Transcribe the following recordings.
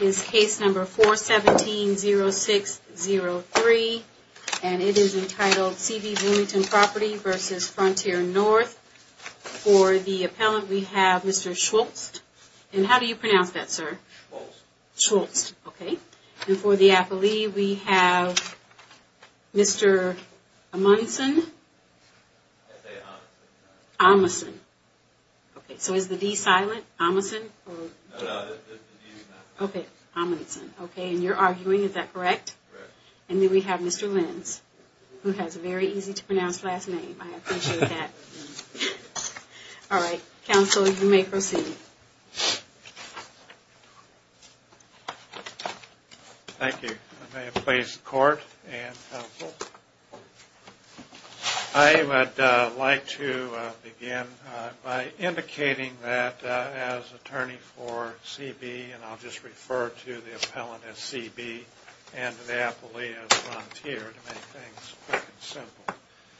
is case number 417-0603, and it is entitled C.B. Bloomington Property v. Frontier North. For the appellant we have Mr. Schultz. And how do you pronounce that sir? Schultz. Okay. And for the appellee we have Mr. Amundson. Amundson. Okay, so is the D silent? Amundson? Okay, Amundson. Okay, and you're arguing, is that correct? Correct. And then we have Mr. Lenz, who has a very easy-to-pronounce last name. I appreciate that. All right, counsel, you may proceed. Thank you. I may have placed the court and counsel. I would like to begin by indicating that as attorney for C.B. and I'll just refer to the appellant as C.B. and the appellee as Frontier to make things quick and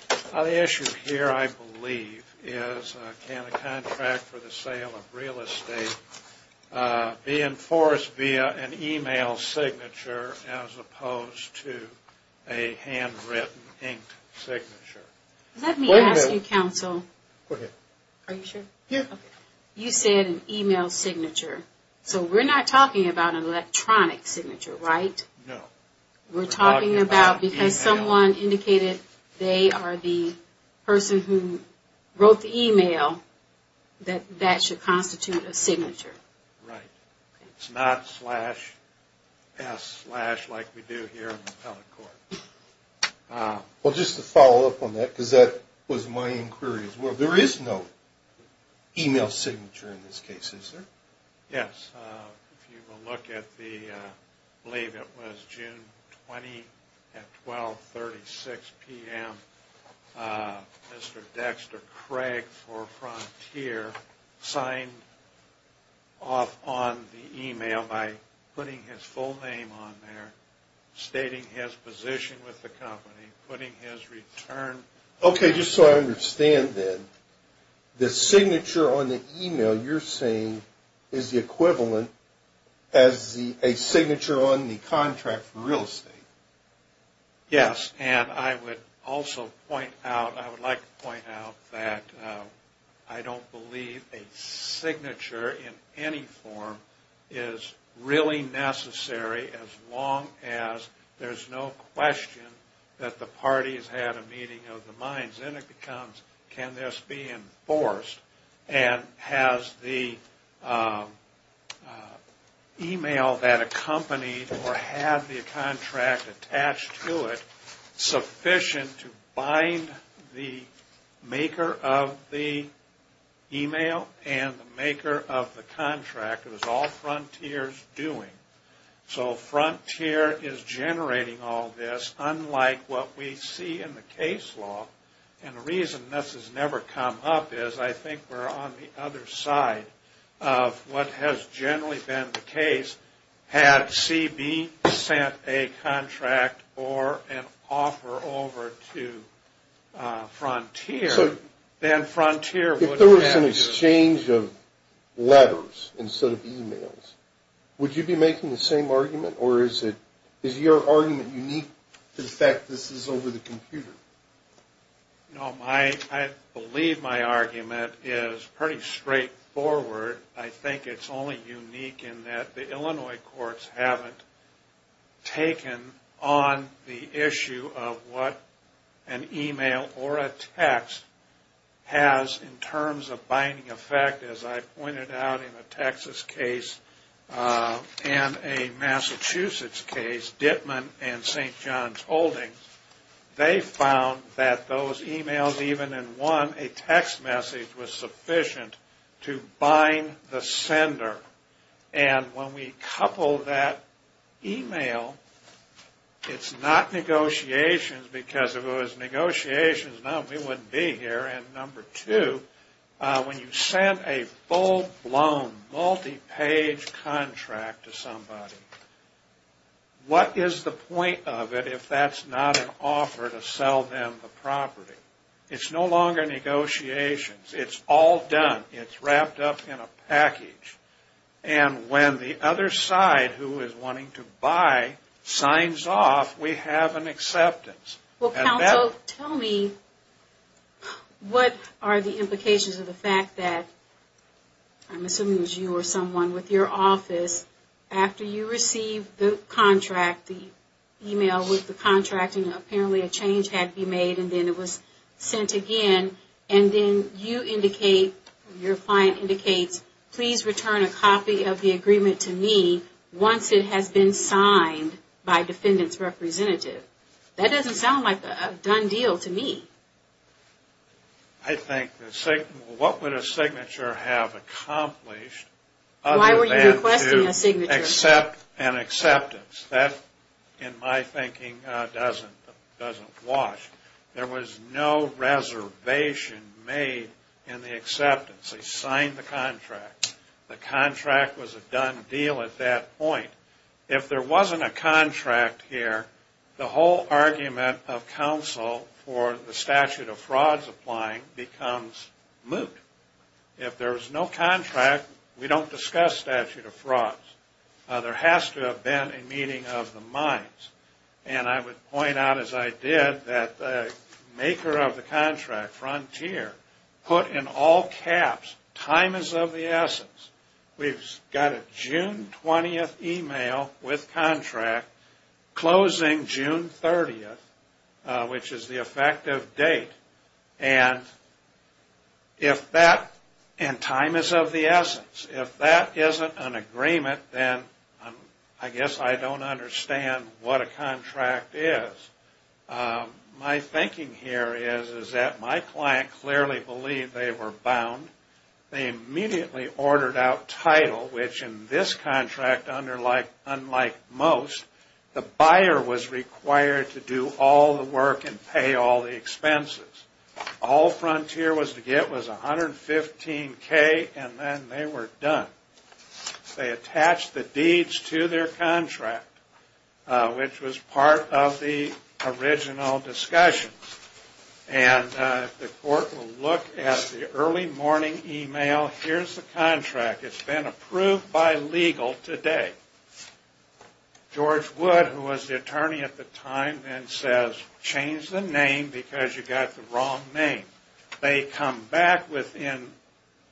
simple. The issue here, I believe, is can a contract for the sale of real estate be enforced via an email signature as opposed to a handwritten, inked signature? Let me ask you, counsel. Are you sure? You said an email signature. So we're not talking about an electronic signature, right? No. We're talking about, because someone indicated they are the person who wrote the email, that that should constitute a signature. Right. It's not slash S slash like we do here in the appellate court. Well, just to follow up on that, because that was my inquiry as well, there is no email signature in this case, is there? Yes. If you will look at the, I believe it was June 20 at 1236 p.m., Mr. Dexter Craig for Frontier signed off on the email by putting his full name on there, stating his position with the company, putting his return. Okay, just so I understand then, the signature on the email you're saying is the equivalent as a signature on the contract for real estate? Yes. And I would also point out, I would like to point out that I don't believe a signature in any form is really necessary as long as there's no question that the party has had a meeting of the minds. Then it becomes, can this be enforced? And has the email that accompanied or had the contract attached to it sufficient to bind the maker of the email and the maker of the contract? It was all Frontier's doing. So Frontier is generating all this unlike what we see in the case law. And the reason this has never come up is I think we're on the other side of what has generally been the case. Had CB sent a contract or an offer over to Frontier, then Frontier would have to... If there was an exchange of letters instead of emails, would you be making the same argument? Or is your argument unique to the fact this is over the computer? No, I believe my argument is pretty straightforward. I think it's only unique in that the Illinois courts haven't taken on the issue of what an email or a text has in terms of binding effect. As I pointed out in a Texas case and a Massachusetts case, Dittman and St. John's Holdings, they found that those emails even in one, a text message was sufficient to bind the sender. And when we couple that email, it's not negotiations because if it was negotiations, no, we wouldn't be here. And number two, when you send a property, it's no longer negotiations. It's all done. It's wrapped up in a package. And when the other side who is wanting to buy signs off, we have an acceptance. Well, counsel, tell me, what are the implications of the fact that, I'm assuming it was you or someone with your office, after you received the contract, the email with the contracting, apparently a change had to be made and then it was sent again. And then you indicate, your client indicates, please return a copy of the agreement to me once it has been signed by defendant's representative. That doesn't sound like a done deal to me. I think, what would a signature have accomplished? Why were you requesting a signature? Except an acceptance. That, in my thinking, doesn't wash. There was no reservation made in the acceptance. They signed the contract. The contract was a done deal at that point. If there wasn't a contract here, the whole argument of We don't discuss statute of frauds. There has to have been a meeting of the minds. And I would point out, as I did, that the maker of the contract, Frontier, put in all caps, time is of the essence. We've got a June 20th email with contract, closing June 30th, which is the effective date. And time is of the essence. If that isn't an agreement, then I guess I don't understand what a contract is. My thinking here is that my client clearly believed they were bound. They immediately ordered out title, which in this contract, unlike most, the buyer was required to do all the work and pay all the expenses. All Frontier was to get was $115,000 and then they were done. They attached the deeds to their contract, which was part of the Here's the contract. It's been approved by legal today. George Wood, who was the attorney at the time, then says, change the name because you got the wrong name. They come back within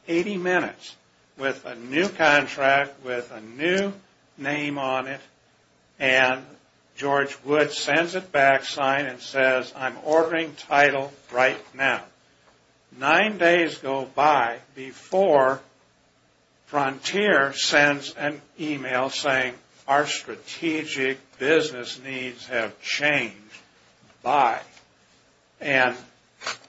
80 minutes with a new contract with a new name on it. And George Wood sends it back, signs and says, I'm ordering title right now. Nine days go by before Frontier sends an email saying, our strategic business needs have changed. Bye. And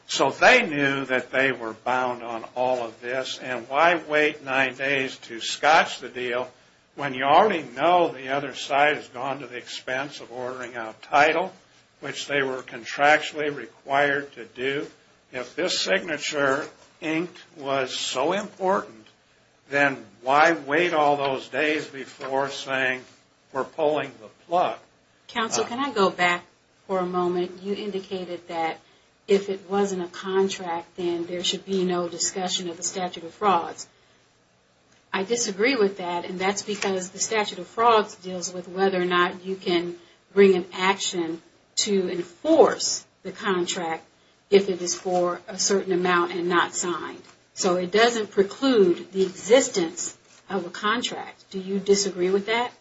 so they knew that they were bound on all of this and why wait nine days to scotch the deal when you already know the other side has gone to the expense of ordering out title, which they were contractually required to do. If this signature, Inc., was so important, then why wait all those days before saying, we're pulling the plug? Counsel, can I go back for a moment? You indicated that if it wasn't a contract, then there should be no discussion of the statute of frauds. That's because the statute of frauds deals with whether or not you can bring an action to enforce the contract if it is for a certain amount and not signed. So it doesn't preclude the existence of a contract. Do you disagree with that?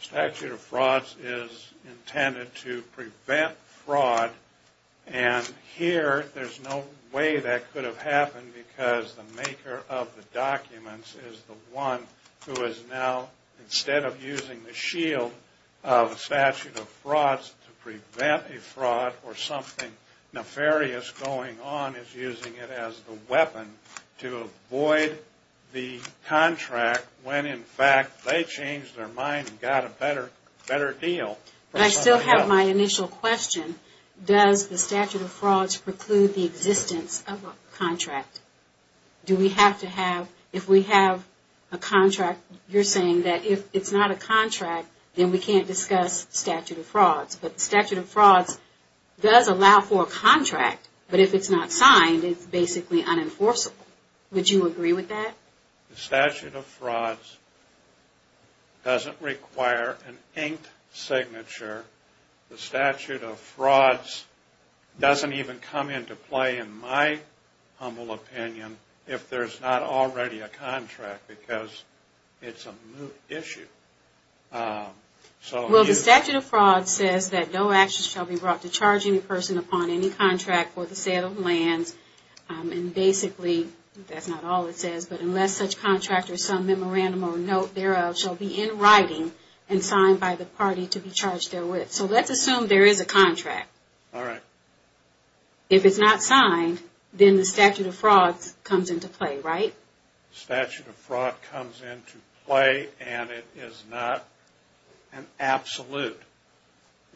The statute of frauds is intended to prevent fraud. And here, there's no way that could have happened because the maker of the documents is the one who is now, instead of using the shield of the statute of frauds to prevent a fraud or something nefarious going on, is using it as the weapon to avoid the contract when, in fact, they changed their mind and got a better deal. But I still have my initial question. Does the statute of frauds preclude the existence of a contract? Do we have to have, if we have a contract, you're saying that if it's not a contract, then we can't discuss statute of frauds. But the statute of frauds does allow for a contract, but if it's not a contract, would you agree with that? The statute of frauds doesn't require an inked signature. The statute of frauds doesn't even come into play, in my humble opinion, if there's not already a contract because it's a moot issue. Well, the statute of frauds says that no action shall be brought to charge any person upon any contract for the sale of lands. And basically, that's not all it says, but unless such contract or some memorandum or note thereof shall be in writing and signed by the party to be charged therewith. So let's assume there is a contract. Alright. If it's not signed, then the statute of frauds comes into play, right? The statute of fraud comes into play and it is not an absolute.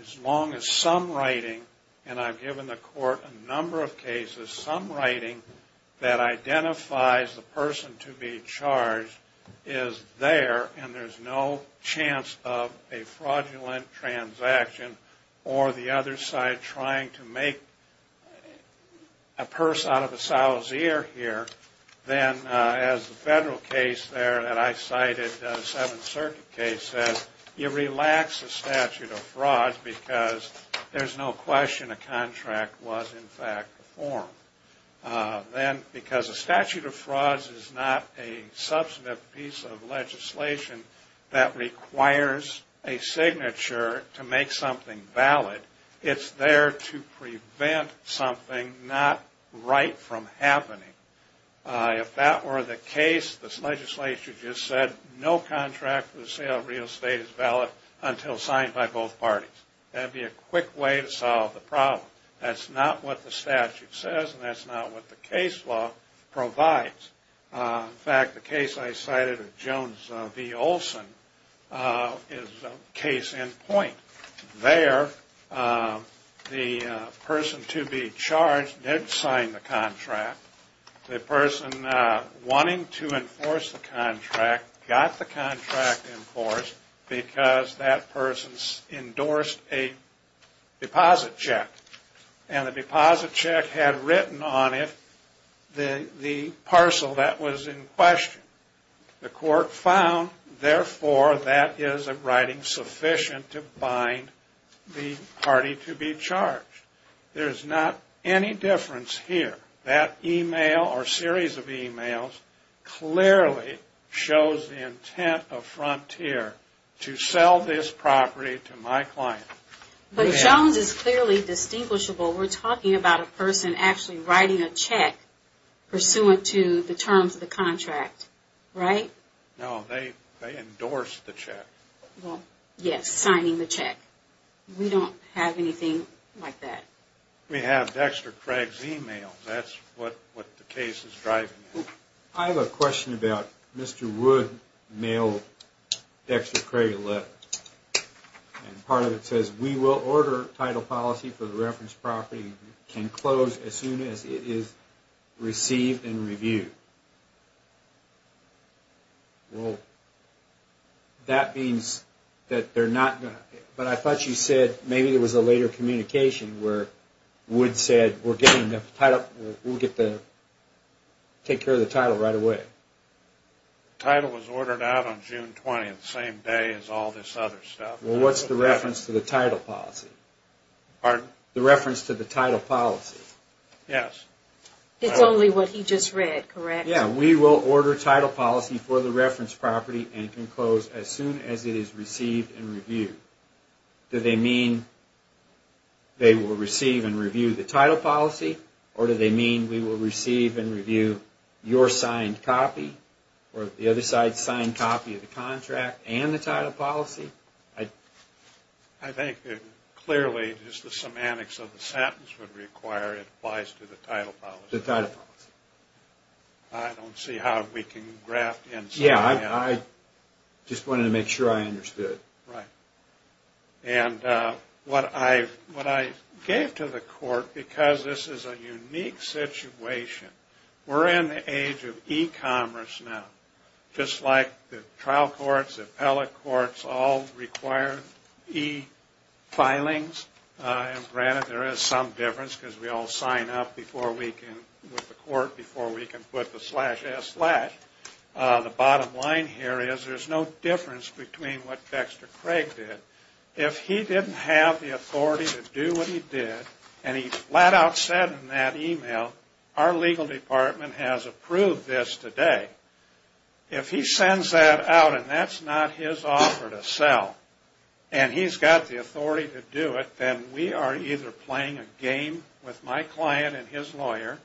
As long as some writing, and I've given the court a number of cases, some writing that identifies the person to be charged is there and there's no chance of a fraudulent transaction or the other side trying to make a purse out of a sow's ear here, then as the federal case there that I cited, the Seventh Circuit case, says you relax the statute of frauds because there's no question a contract was in fact formed. Then, because a statute of frauds is not a substantive piece of legislation that requires a signature to make something valid, it's there to prevent something not right from happening. If that were the case, this legislature just said no contract for the sale of real estate is valid until signed by both parties. That would be a quick way to solve the problem. That's not what the statute says and that's not what the case law provides. In fact, the case I cited of Jones v. Olson is case in point. There, the person to be charged did sign the contract. The person wanting to enforce the contract got the contract enforced because that person endorsed a deposit check. And the deposit check had written on it the parcel that was in question. The court found, therefore, that is a writing sufficient to bind the party to be charged. There's not any difference here. That email or series of emails clearly shows the intent of Frontier to sell this property to my client. But Jones is clearly distinguishable. We're talking about a person actually writing a check pursuant to the terms of the contract, right? No, they endorsed the check. Yes, signing the check. We don't have anything like that. We have Dexter Craig's email. That's what the case is driving at. I have a question about Mr. Wood's mail, Dexter Craig 11. Part of it says, we will order title policy for the reference property. It can close as soon as it is received and reviewed. Well, that means that they're not going to, but I thought you said maybe there was a later communication where Wood said, we're getting the title, we'll get the, take care of the title right away. Title was ordered out on June 20th, the same day as all this other stuff. Well, what's the reference to the title policy? Pardon? The reference to the title policy. Yes. It's only what he just read, correct? Yeah, we will order title policy for the reference property and can close as soon as it is received and reviewed. Do they mean they will receive and review the title policy, or do they mean we will receive and review your signed copy, or the other side's signed copy of the contract and the title policy? I think it clearly, just the semantics of the sentence would require it applies to the title policy. The title policy. I don't see how we can graft in some of that. Yeah, I just wanted to make sure I understood. Right. And what I gave to the court, because this is a unique situation, we're in the age of e-commerce now. Just like the trial courts, the appellate courts all require e-filings, and granted there is some difference because we all sign up before we can, with the court, before we can put the slash S slash. The bottom line here is there's no difference between what Dexter Craig did. If he didn't have the authority to do what he did, and he flat out said in that e-mail, our legal department has approved this today. If he sends that out and that's not his offer to sell, and he's got the authority to do it, then we are either playing a game with my client and his lawyer.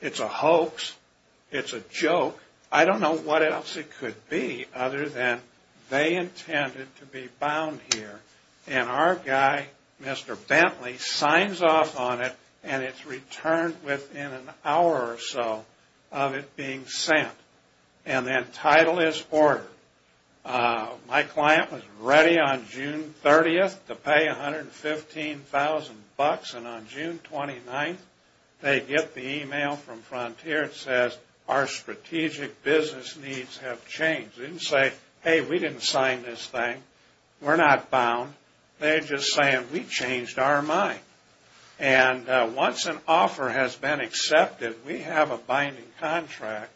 It's a hoax. It's a joke. I don't know what else it could be other than they intended to be bound here. And our guy, Mr. Bentley, signs off on it, and it's returned within an hour or so of it being sent. And then title is ordered. My client was ready on June 30th to pay $115,000, and on June 29th they get the e-mail from Frontier that says our strategic business needs have changed. They didn't say, hey, we didn't sign this thing. We're not bound. They're just saying we changed our mind. And once an offer has been accepted, we have a binding contract,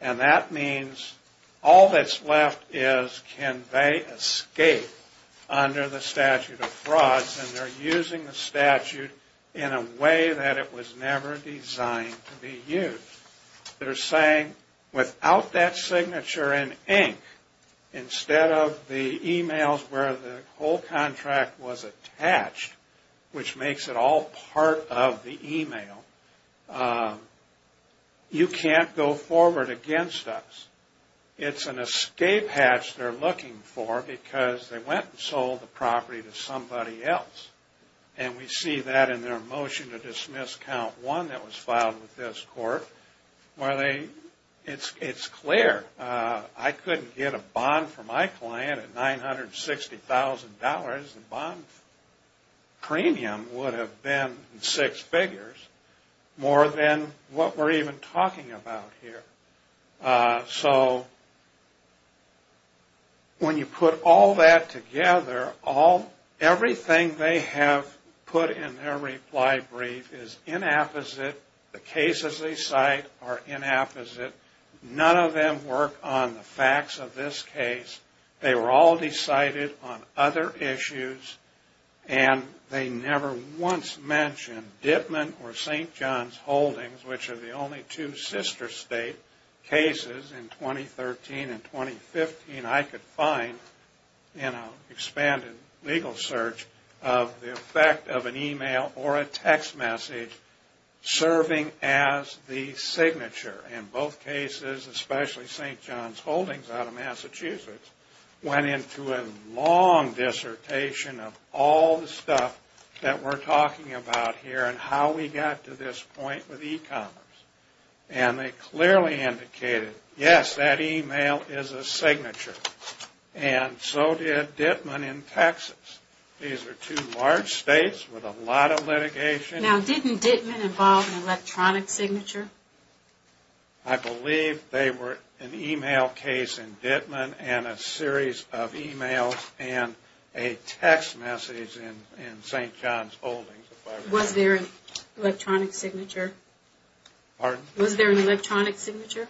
and that means all that's left is can they escape under the statute of frauds, and they're using the statute in a way that it was never designed to be used. They're saying without that signature in ink, instead of the e-mails where the whole contract was attached, which makes it all part of the e-mail, you can't go forward against us. It's an escape hatch they're looking for because they went and sold the property to somebody else, and we see that in their motion to dismiss count one that was filed with this court. It's clear. I couldn't get a bond for my client at $960,000. The bond premium would have been six figures, more than what we're even talking about here. So when you put all that together, everything they have put in their reply brief is inapposite. The cases they cite are inapposite. None of them work on the facts of this case. They were all decided on other issues, and they never once mentioned Dittman or St. John's Holdings, which are the only two sister state cases in 2013 and 2015 I could find in an expanded legal search of the effect of an e-mail or a text message serving as the signature. And both cases, especially St. John's Holdings out of Massachusetts, went into a long dissertation of all the stuff that we're talking about here and how we got to this point with e-commerce. And they clearly indicated, yes, that e-mail is a signature, and so did Dittman in Texas. These are two large states with a lot of litigation. Now, didn't Dittman involve an electronic signature? I believe they were an e-mail case in Dittman and a series of e-mails and a text message in St. John's Holdings. Was there an electronic signature? Pardon? Was there an electronic signature?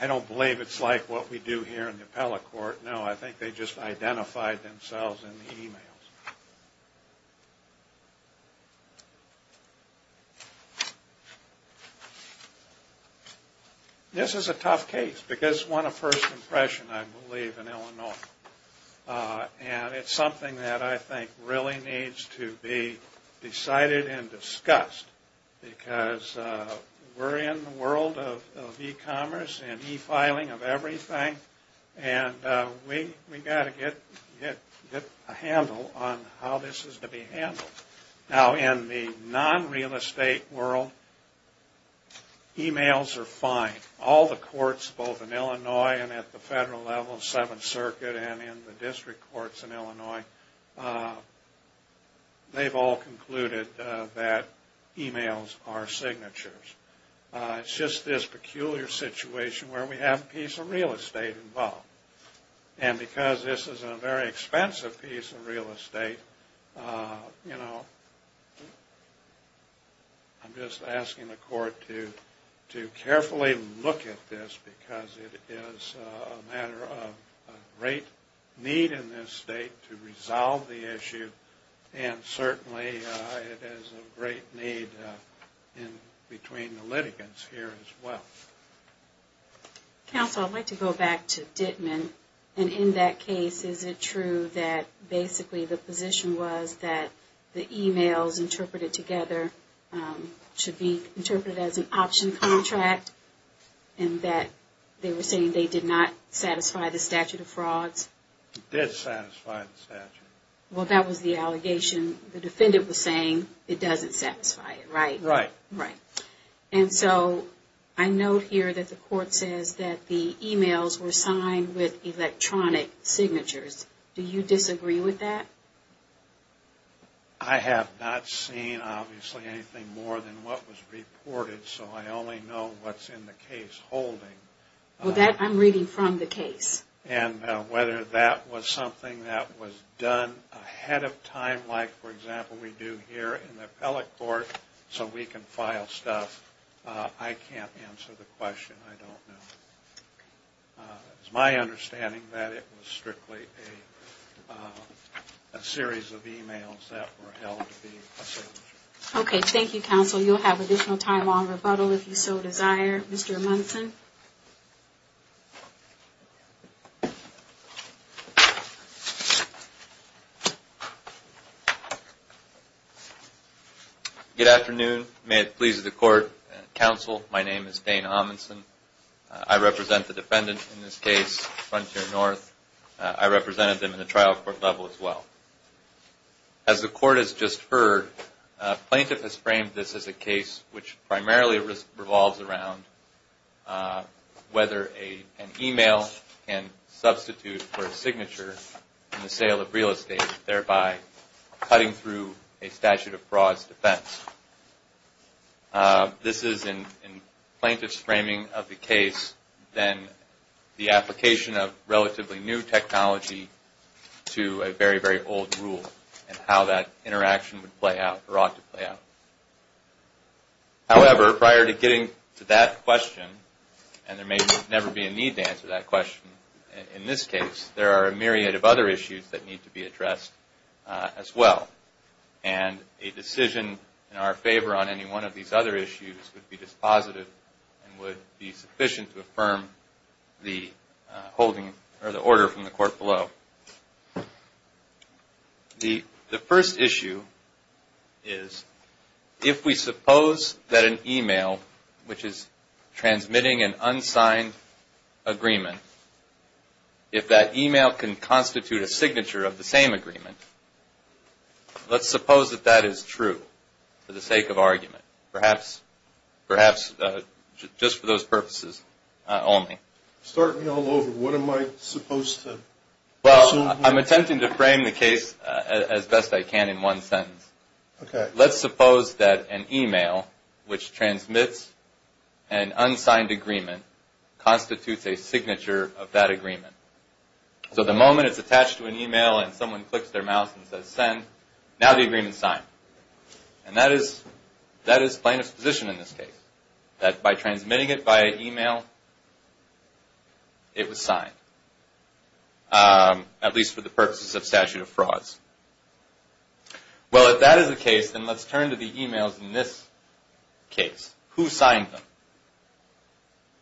I don't believe it's like what we do here in the appellate court. No, I think they just identified themselves in the e-mails. This is a tough case because it won a first impression, I believe, in Illinois. And it's something that I think really needs to be decided and discussed because we're in the world of e-commerce and e-filing of everything, and we've got to get a handle on how this is to be handled. Now, in the non-real estate world, e-mails are fine. All the courts, both in Illinois and at the federal level of Seventh Circuit and in the district courts in Illinois, they've all concluded that e-mails are signatures. It's just this peculiar situation where we have a piece of real estate involved. And because this is a very expensive piece of real estate, you know, I'm just asking the court to carefully look at this because it is a matter of a great need in this state to resolve the issue, and certainly it is a great need in between the litigants here as well. Counsel, I'd like to go back to Dittman. And in that case, is it true that basically the position was that the e-mails interpreted together should be interpreted as an option contract and that they were saying they did not satisfy the statute of frauds? It did satisfy the statute. Well, that was the allegation the defendant was saying it doesn't satisfy it, right? Right. Right. And so I note here that the court says that the e-mails were signed with electronic signatures. Do you disagree with that? I have not seen, obviously, anything more than what was reported, so I only know what's in the case holding. Well, that I'm reading from the case. And whether that was something that was done ahead of time, like, for example, we do here in the appellate court so we can file stuff, I can't answer the question. I don't know. It's my understanding that it was strictly a series of e-mails that were held to be a signature. Okay. Thank you, Counsel. You'll have additional time on rebuttal if you so desire. Mr. Munson? Good afternoon. May it please the Court, Counsel. My name is Dane Amundson. I represent the defendant in this case, Frontier North. I represented them in the trial court level as well. As the Court has just heard, plaintiff has framed this as a case which primarily revolves around whether an e-mail can substitute for a signature in the sale of real estate, thereby cutting through a statute of fraud's defense. This is, in plaintiff's framing of the case, then the application of relatively new technology to a very, very old rule and how that interaction would play out or ought to play out. However, prior to getting to that question, and there may never be a need to answer that question in this case, there are a myriad of other issues that need to be addressed as well. And a decision in our favor on any one of these other issues would be dispositive and would be sufficient to affirm the order from the Court below. The first issue is if we suppose that an e-mail, which is transmitting an unsigned agreement, if that e-mail can constitute a signature of the same agreement, let's suppose that that is true for the sake of argument, perhaps just for those purposes only. Start me all over. What am I supposed to assume here? Well, I'm attempting to frame the case as best I can in one sentence. Okay. Let's suppose that an e-mail which transmits an unsigned agreement constitutes a signature of that agreement. So the moment it's attached to an e-mail and someone clicks their mouse and says send, now the agreement's signed. And that is plain exposition in this case, that by transmitting it via e-mail, it was signed, at least for the purposes of statute of frauds. Well, if that is the case, then let's turn to the e-mails in this case. Who signed them?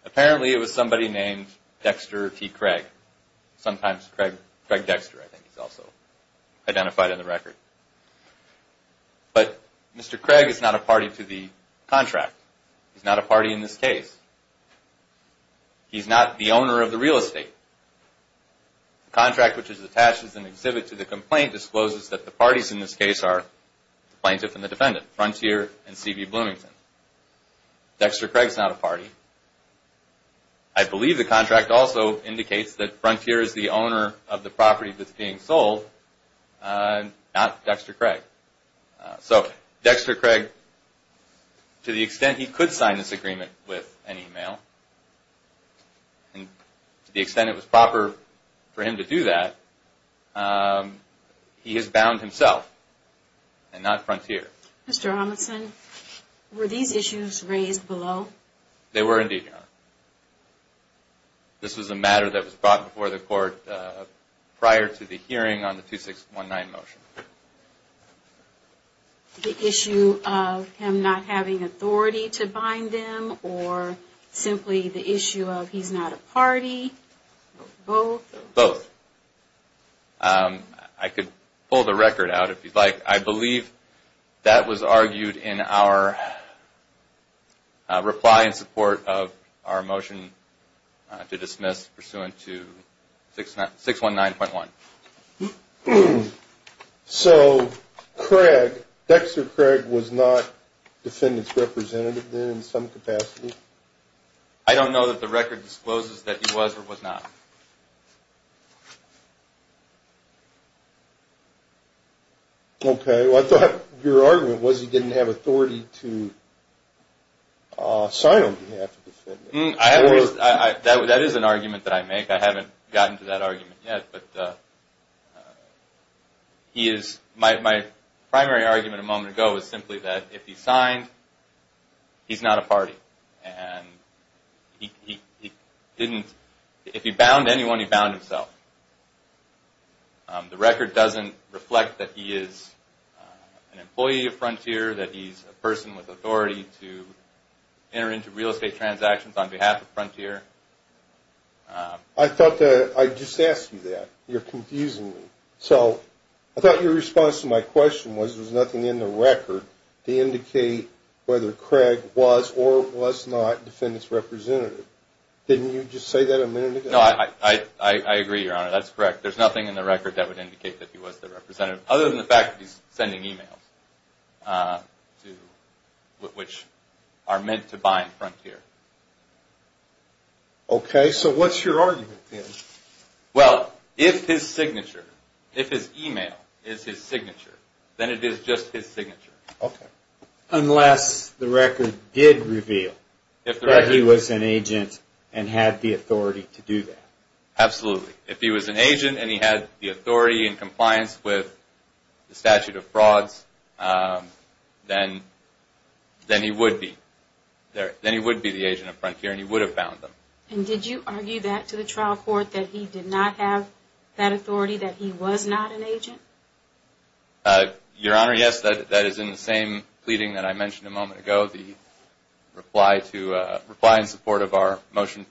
Apparently it was somebody named Dexter T. Craig, sometimes Craig Dexter, I think he's also identified in the record. But Mr. Craig is not a party to the contract. He's not a party in this case. He's not the owner of the real estate. The contract which is attached as an exhibit to the complaint discloses that the parties in this case are the plaintiff and the defendant, Frontier and C.B. Bloomington. Dexter Craig's not a party. I believe the contract also indicates that Frontier is the owner of the property that's being sold, not Dexter Craig. So Dexter Craig, to the extent he could sign this agreement with an e-mail, and to the extent it was proper for him to do that, he is bound himself and not Frontier. Mr. Amundson, were these issues raised below? They were indeed, Your Honor. This was a matter that was brought before the court prior to the hearing on the 2619 motion. The issue of him not having authority to bind them or simply the issue of he's not a party, both? Both. I could pull the record out if you'd like. I believe that was argued in our reply in support of our motion to dismiss pursuant to 619.1. So Craig, Dexter Craig was not the defendant's representative there in some capacity? I don't know that the record discloses that he was or was not. Okay. Well, I thought your argument was he didn't have authority to sign on behalf of the defendant. That is an argument that I make. I haven't gotten to that argument yet. But my primary argument a moment ago was simply that if he signed, he's not a party. And if he bound anyone, he bound himself. The record doesn't reflect that he is an employee of Frontier, that he's a person with authority to enter into real estate transactions on behalf of Frontier. I thought that I just asked you that. You're confusing me. So I thought your response to my question was there's nothing in the record to indicate whether Craig was or was not the defendant's representative. Didn't you just say that a minute ago? No, I agree, Your Honor. That's correct. There's nothing in the record that would indicate that he was the representative, other than the fact that he's sending e-mails, which are meant to bind Frontier. Okay. So what's your argument, then? Well, if his signature, if his e-mail is his signature, then it is just his signature. Okay. Unless the record did reveal that he was an agent and had the authority to do that. Absolutely. If he was an agent and he had the authority and compliance with the statute of frauds, then he would be. Then he would be the agent of Frontier and he would have bound them. And did you argue that to the trial court, that he did not have that authority, that he was not an agent? Your Honor, yes. That is in the same pleading that I mentioned a moment ago, the reply in support of our motion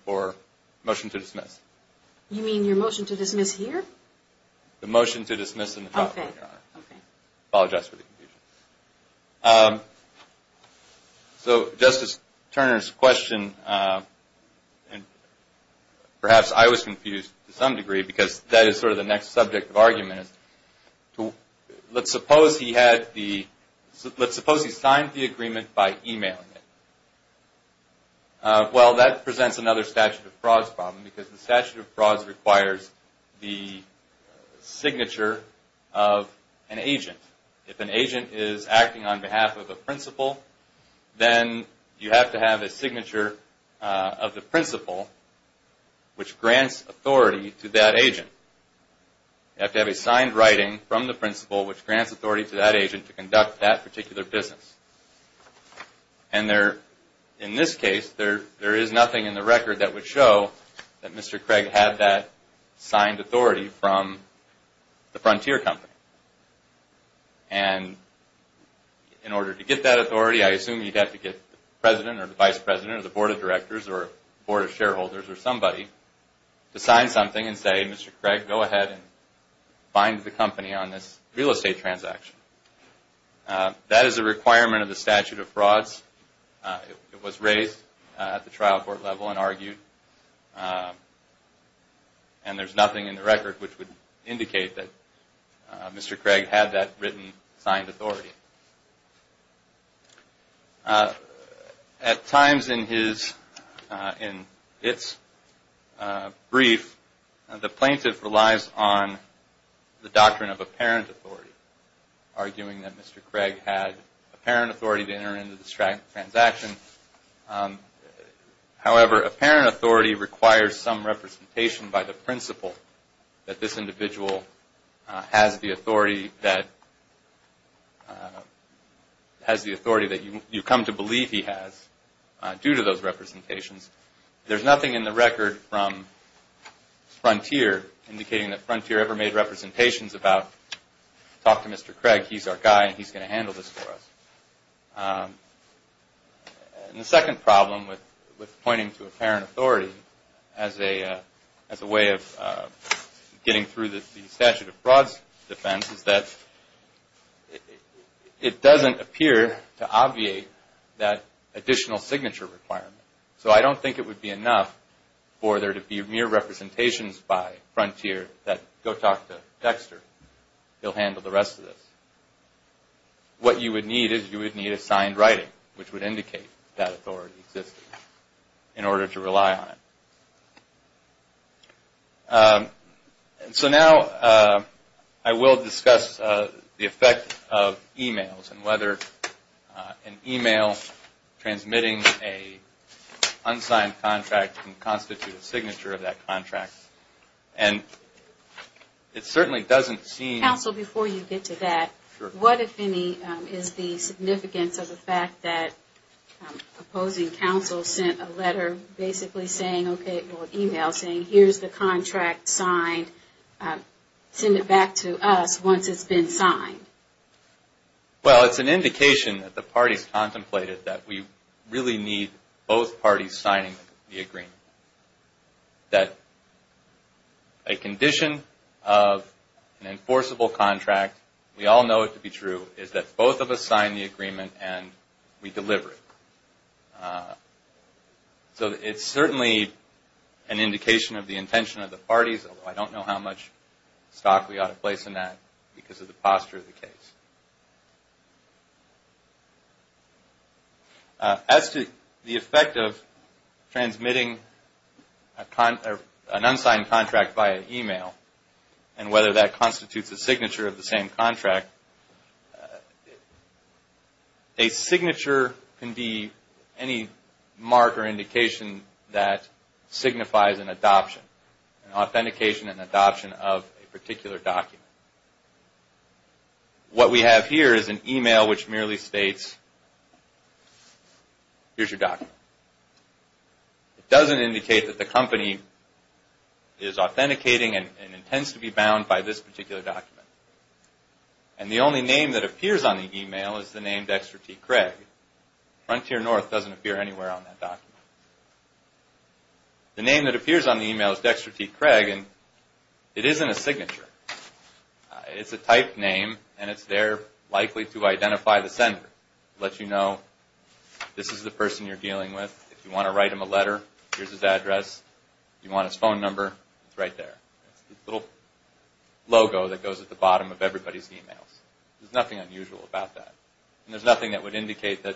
to dismiss. You mean your motion to dismiss here? The motion to dismiss in the trial court, Your Honor. Okay. Apologize for the confusion. So Justice Turner's question, perhaps I was confused to some degree because that is sort of the next subject of argument. Let's suppose he had the, let's suppose he signed the agreement by e-mailing it. Well, that presents another statute of frauds problem because the statute of frauds requires the signature of an agent. If an agent is acting on behalf of a principal, then you have to have a signature of the principal which grants authority to that agent. You have to have a signed writing from the principal which grants authority to that agent to conduct that particular business. And in this case, there is nothing in the record that would show that Mr. Craig had that signed authority from the Frontier Company. And in order to get that authority, I assume you'd have to get the president or the vice president or the board of directors or the board of shareholders or somebody to sign something and say, Mr. Craig, go ahead and find the company on this real estate transaction. That is a requirement of the statute of frauds. It was raised at the trial court level and argued. And there's nothing in the record which would indicate that Mr. Craig had that written signed authority. At times in his, in its brief, the plaintiff relies on the doctrine of apparent authority, arguing that Mr. Craig had apparent authority to enter into this transaction. However, apparent authority requires some representation by the principal that this individual has the authority that you come to believe he has due to those representations. There's nothing in the record from Frontier indicating that Frontier ever made representations about, talk to Mr. Craig, he's our guy and he's going to handle this for us. And the second problem with pointing to apparent authority as a way of getting through the statute of frauds defense is that it doesn't appear to obviate that additional signature requirement. So I don't think it would be enough for there to be mere representations by Frontier that go talk to Dexter, he'll handle the rest of this. What you would need is you would need a signed writing which would indicate that authority existed in order to rely on it. So now I will discuss the effect of e-mails and whether an e-mail transmitting an unsigned contract can constitute a signature of that contract. And it certainly doesn't seem... Counsel, before you get to that, what if any is the significance of the fact that opposing counsel sent a letter basically saying, okay, well, an e-mail saying here's the contract signed, send it back to us once it's been signed? Well, it's an indication that the parties contemplated that we really need both parties signing the agreement. That a condition of an enforceable contract, we all know it to be true, is that both of us sign the agreement and we deliver it. So it's certainly an indication of the intention of the parties, although I don't know how much stock we ought to place in that because of the posture of the case. As to the effect of transmitting an unsigned contract via e-mail and whether that constitutes a signature of the same contract, a signature can be any mark or indication that signifies an adoption, authentication and adoption of a particular document. What we have here is an e-mail which merely states, here's your document. It doesn't indicate that the company is authenticating and intends to be bound by this particular document. And the only name that appears on the e-mail is the name Dexter T. Craig. Frontier North doesn't appear anywhere on that document. The name that appears on the e-mail is Dexter T. Craig and it isn't a signature. It's a type name and it's there likely to identify the sender. It lets you know this is the person you're dealing with. If you want to write him a letter, here's his address. If you want his phone number, it's right there. It's the little logo that goes at the bottom of everybody's e-mails. There's nothing unusual about that. And there's nothing that would indicate that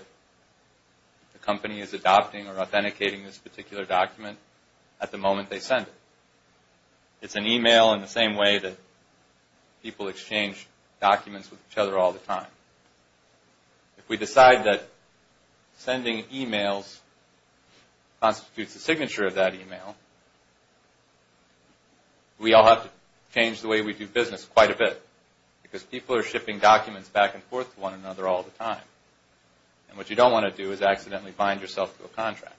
the company is adopting or authenticating this particular document at the moment they send it. It's an e-mail in the same way that people exchange documents with each other all the time. If we decide that sending e-mails constitutes a signature of that e-mail, we all have to change the way we do business quite a bit. Because people are shipping documents back and forth to one another all the time. And what you don't want to do is accidentally bind yourself to a contract.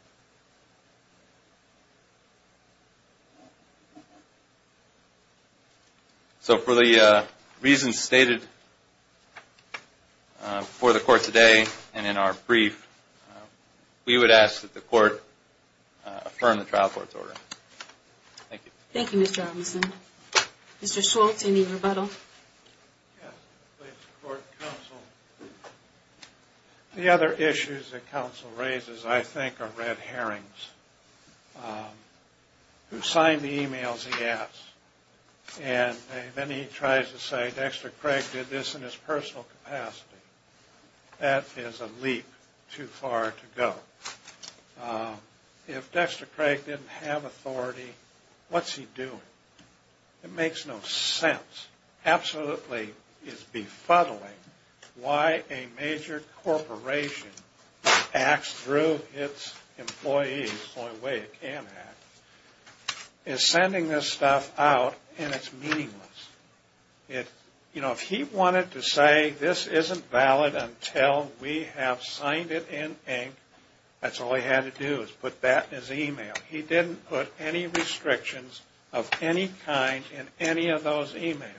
So for the reasons stated before the court today and in our brief, we would ask that the court affirm the trial court's order. Thank you. Thank you, Mr. Robinson. Mr. Schultz, any rebuttal? Yes. Please support counsel. The other issues that counsel raises, I think, are red herrings. Who signed the e-mails, he asks. And then he tries to say, Dexter Craig did this in his personal capacity. That is a leap too far to go. If Dexter Craig didn't have authority, what's he doing? It makes no sense. This absolutely is befuddling why a major corporation acts through its employees. It's the only way it can act. It's sending this stuff out and it's meaningless. You know, if he wanted to say this isn't valid until we have signed it in ink, that's all he had to do is put that in his e-mail. He didn't put any restrictions of any kind in any of those e-mails.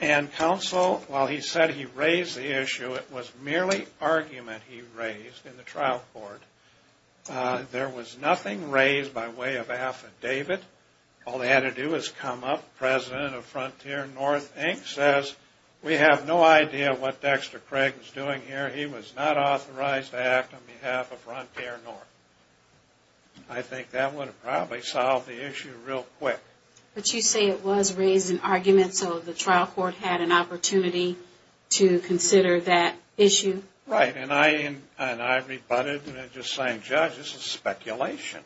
And counsel, while he said he raised the issue, it was merely argument he raised in the trial court. There was nothing raised by way of affidavit. All they had to do was come up. President of Frontier North Inc. says, we have no idea what Dexter Craig was doing here. He was not authorized to act on behalf of Frontier North. I think that would have probably solved the issue real quick. But you say it was raised in argument so the trial court had an opportunity to consider that issue? Right. And I rebutted and just saying, Judge, this is speculation.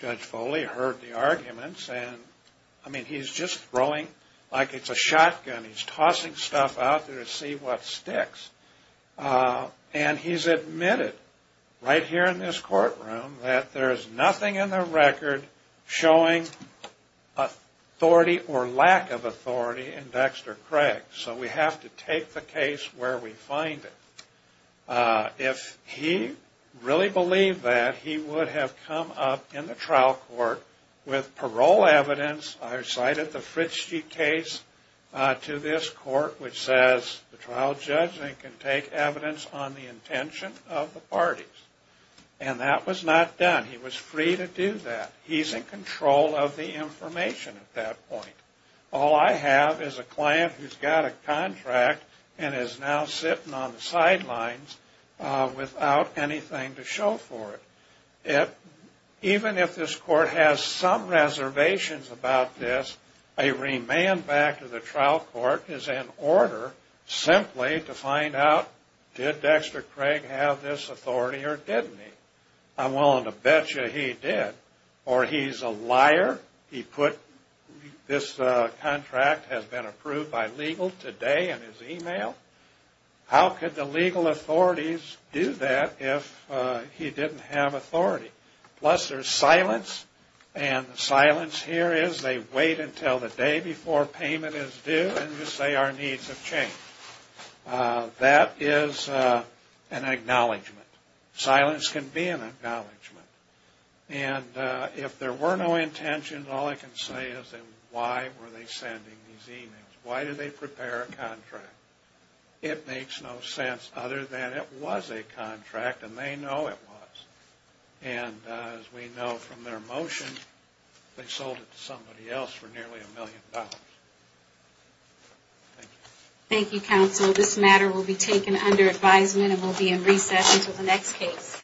Judge Foley heard the arguments. I mean, he's just throwing like it's a shotgun. He's tossing stuff out there to see what sticks. And he's admitted right here in this courtroom that there's nothing in the record showing authority or lack of authority in Dexter Craig. So we have to take the case where we find it. If he really believed that, he would have come up in the trial court with parole evidence. I cited the Fritsche case to this court, which says the trial judge can take evidence on the intention of the parties. And that was not done. He was free to do that. He's in control of the information at that point. All I have is a client who's got a contract and is now sitting on the sidelines without anything to show for it. Even if this court has some reservations about this, a remand back to the trial court is in order simply to find out did Dexter Craig have this authority or didn't he. I'm willing to bet you he did. Or he's a liar. He put this contract has been approved by legal today in his email. How could the legal authorities do that if he didn't have authority? Plus there's silence. And the silence here is they wait until the day before payment is due and just say our needs have changed. That is an acknowledgment. Silence can be an acknowledgment. And if there were no intentions, all I can say is then why were they sending these emails? Why did they prepare a contract? It makes no sense other than it was a contract and they know it was. And as we know from their motion, they sold it to somebody else for nearly a million dollars. Thank you. Thank you, counsel. This matter will be taken under advisement and will be in recess until the next case.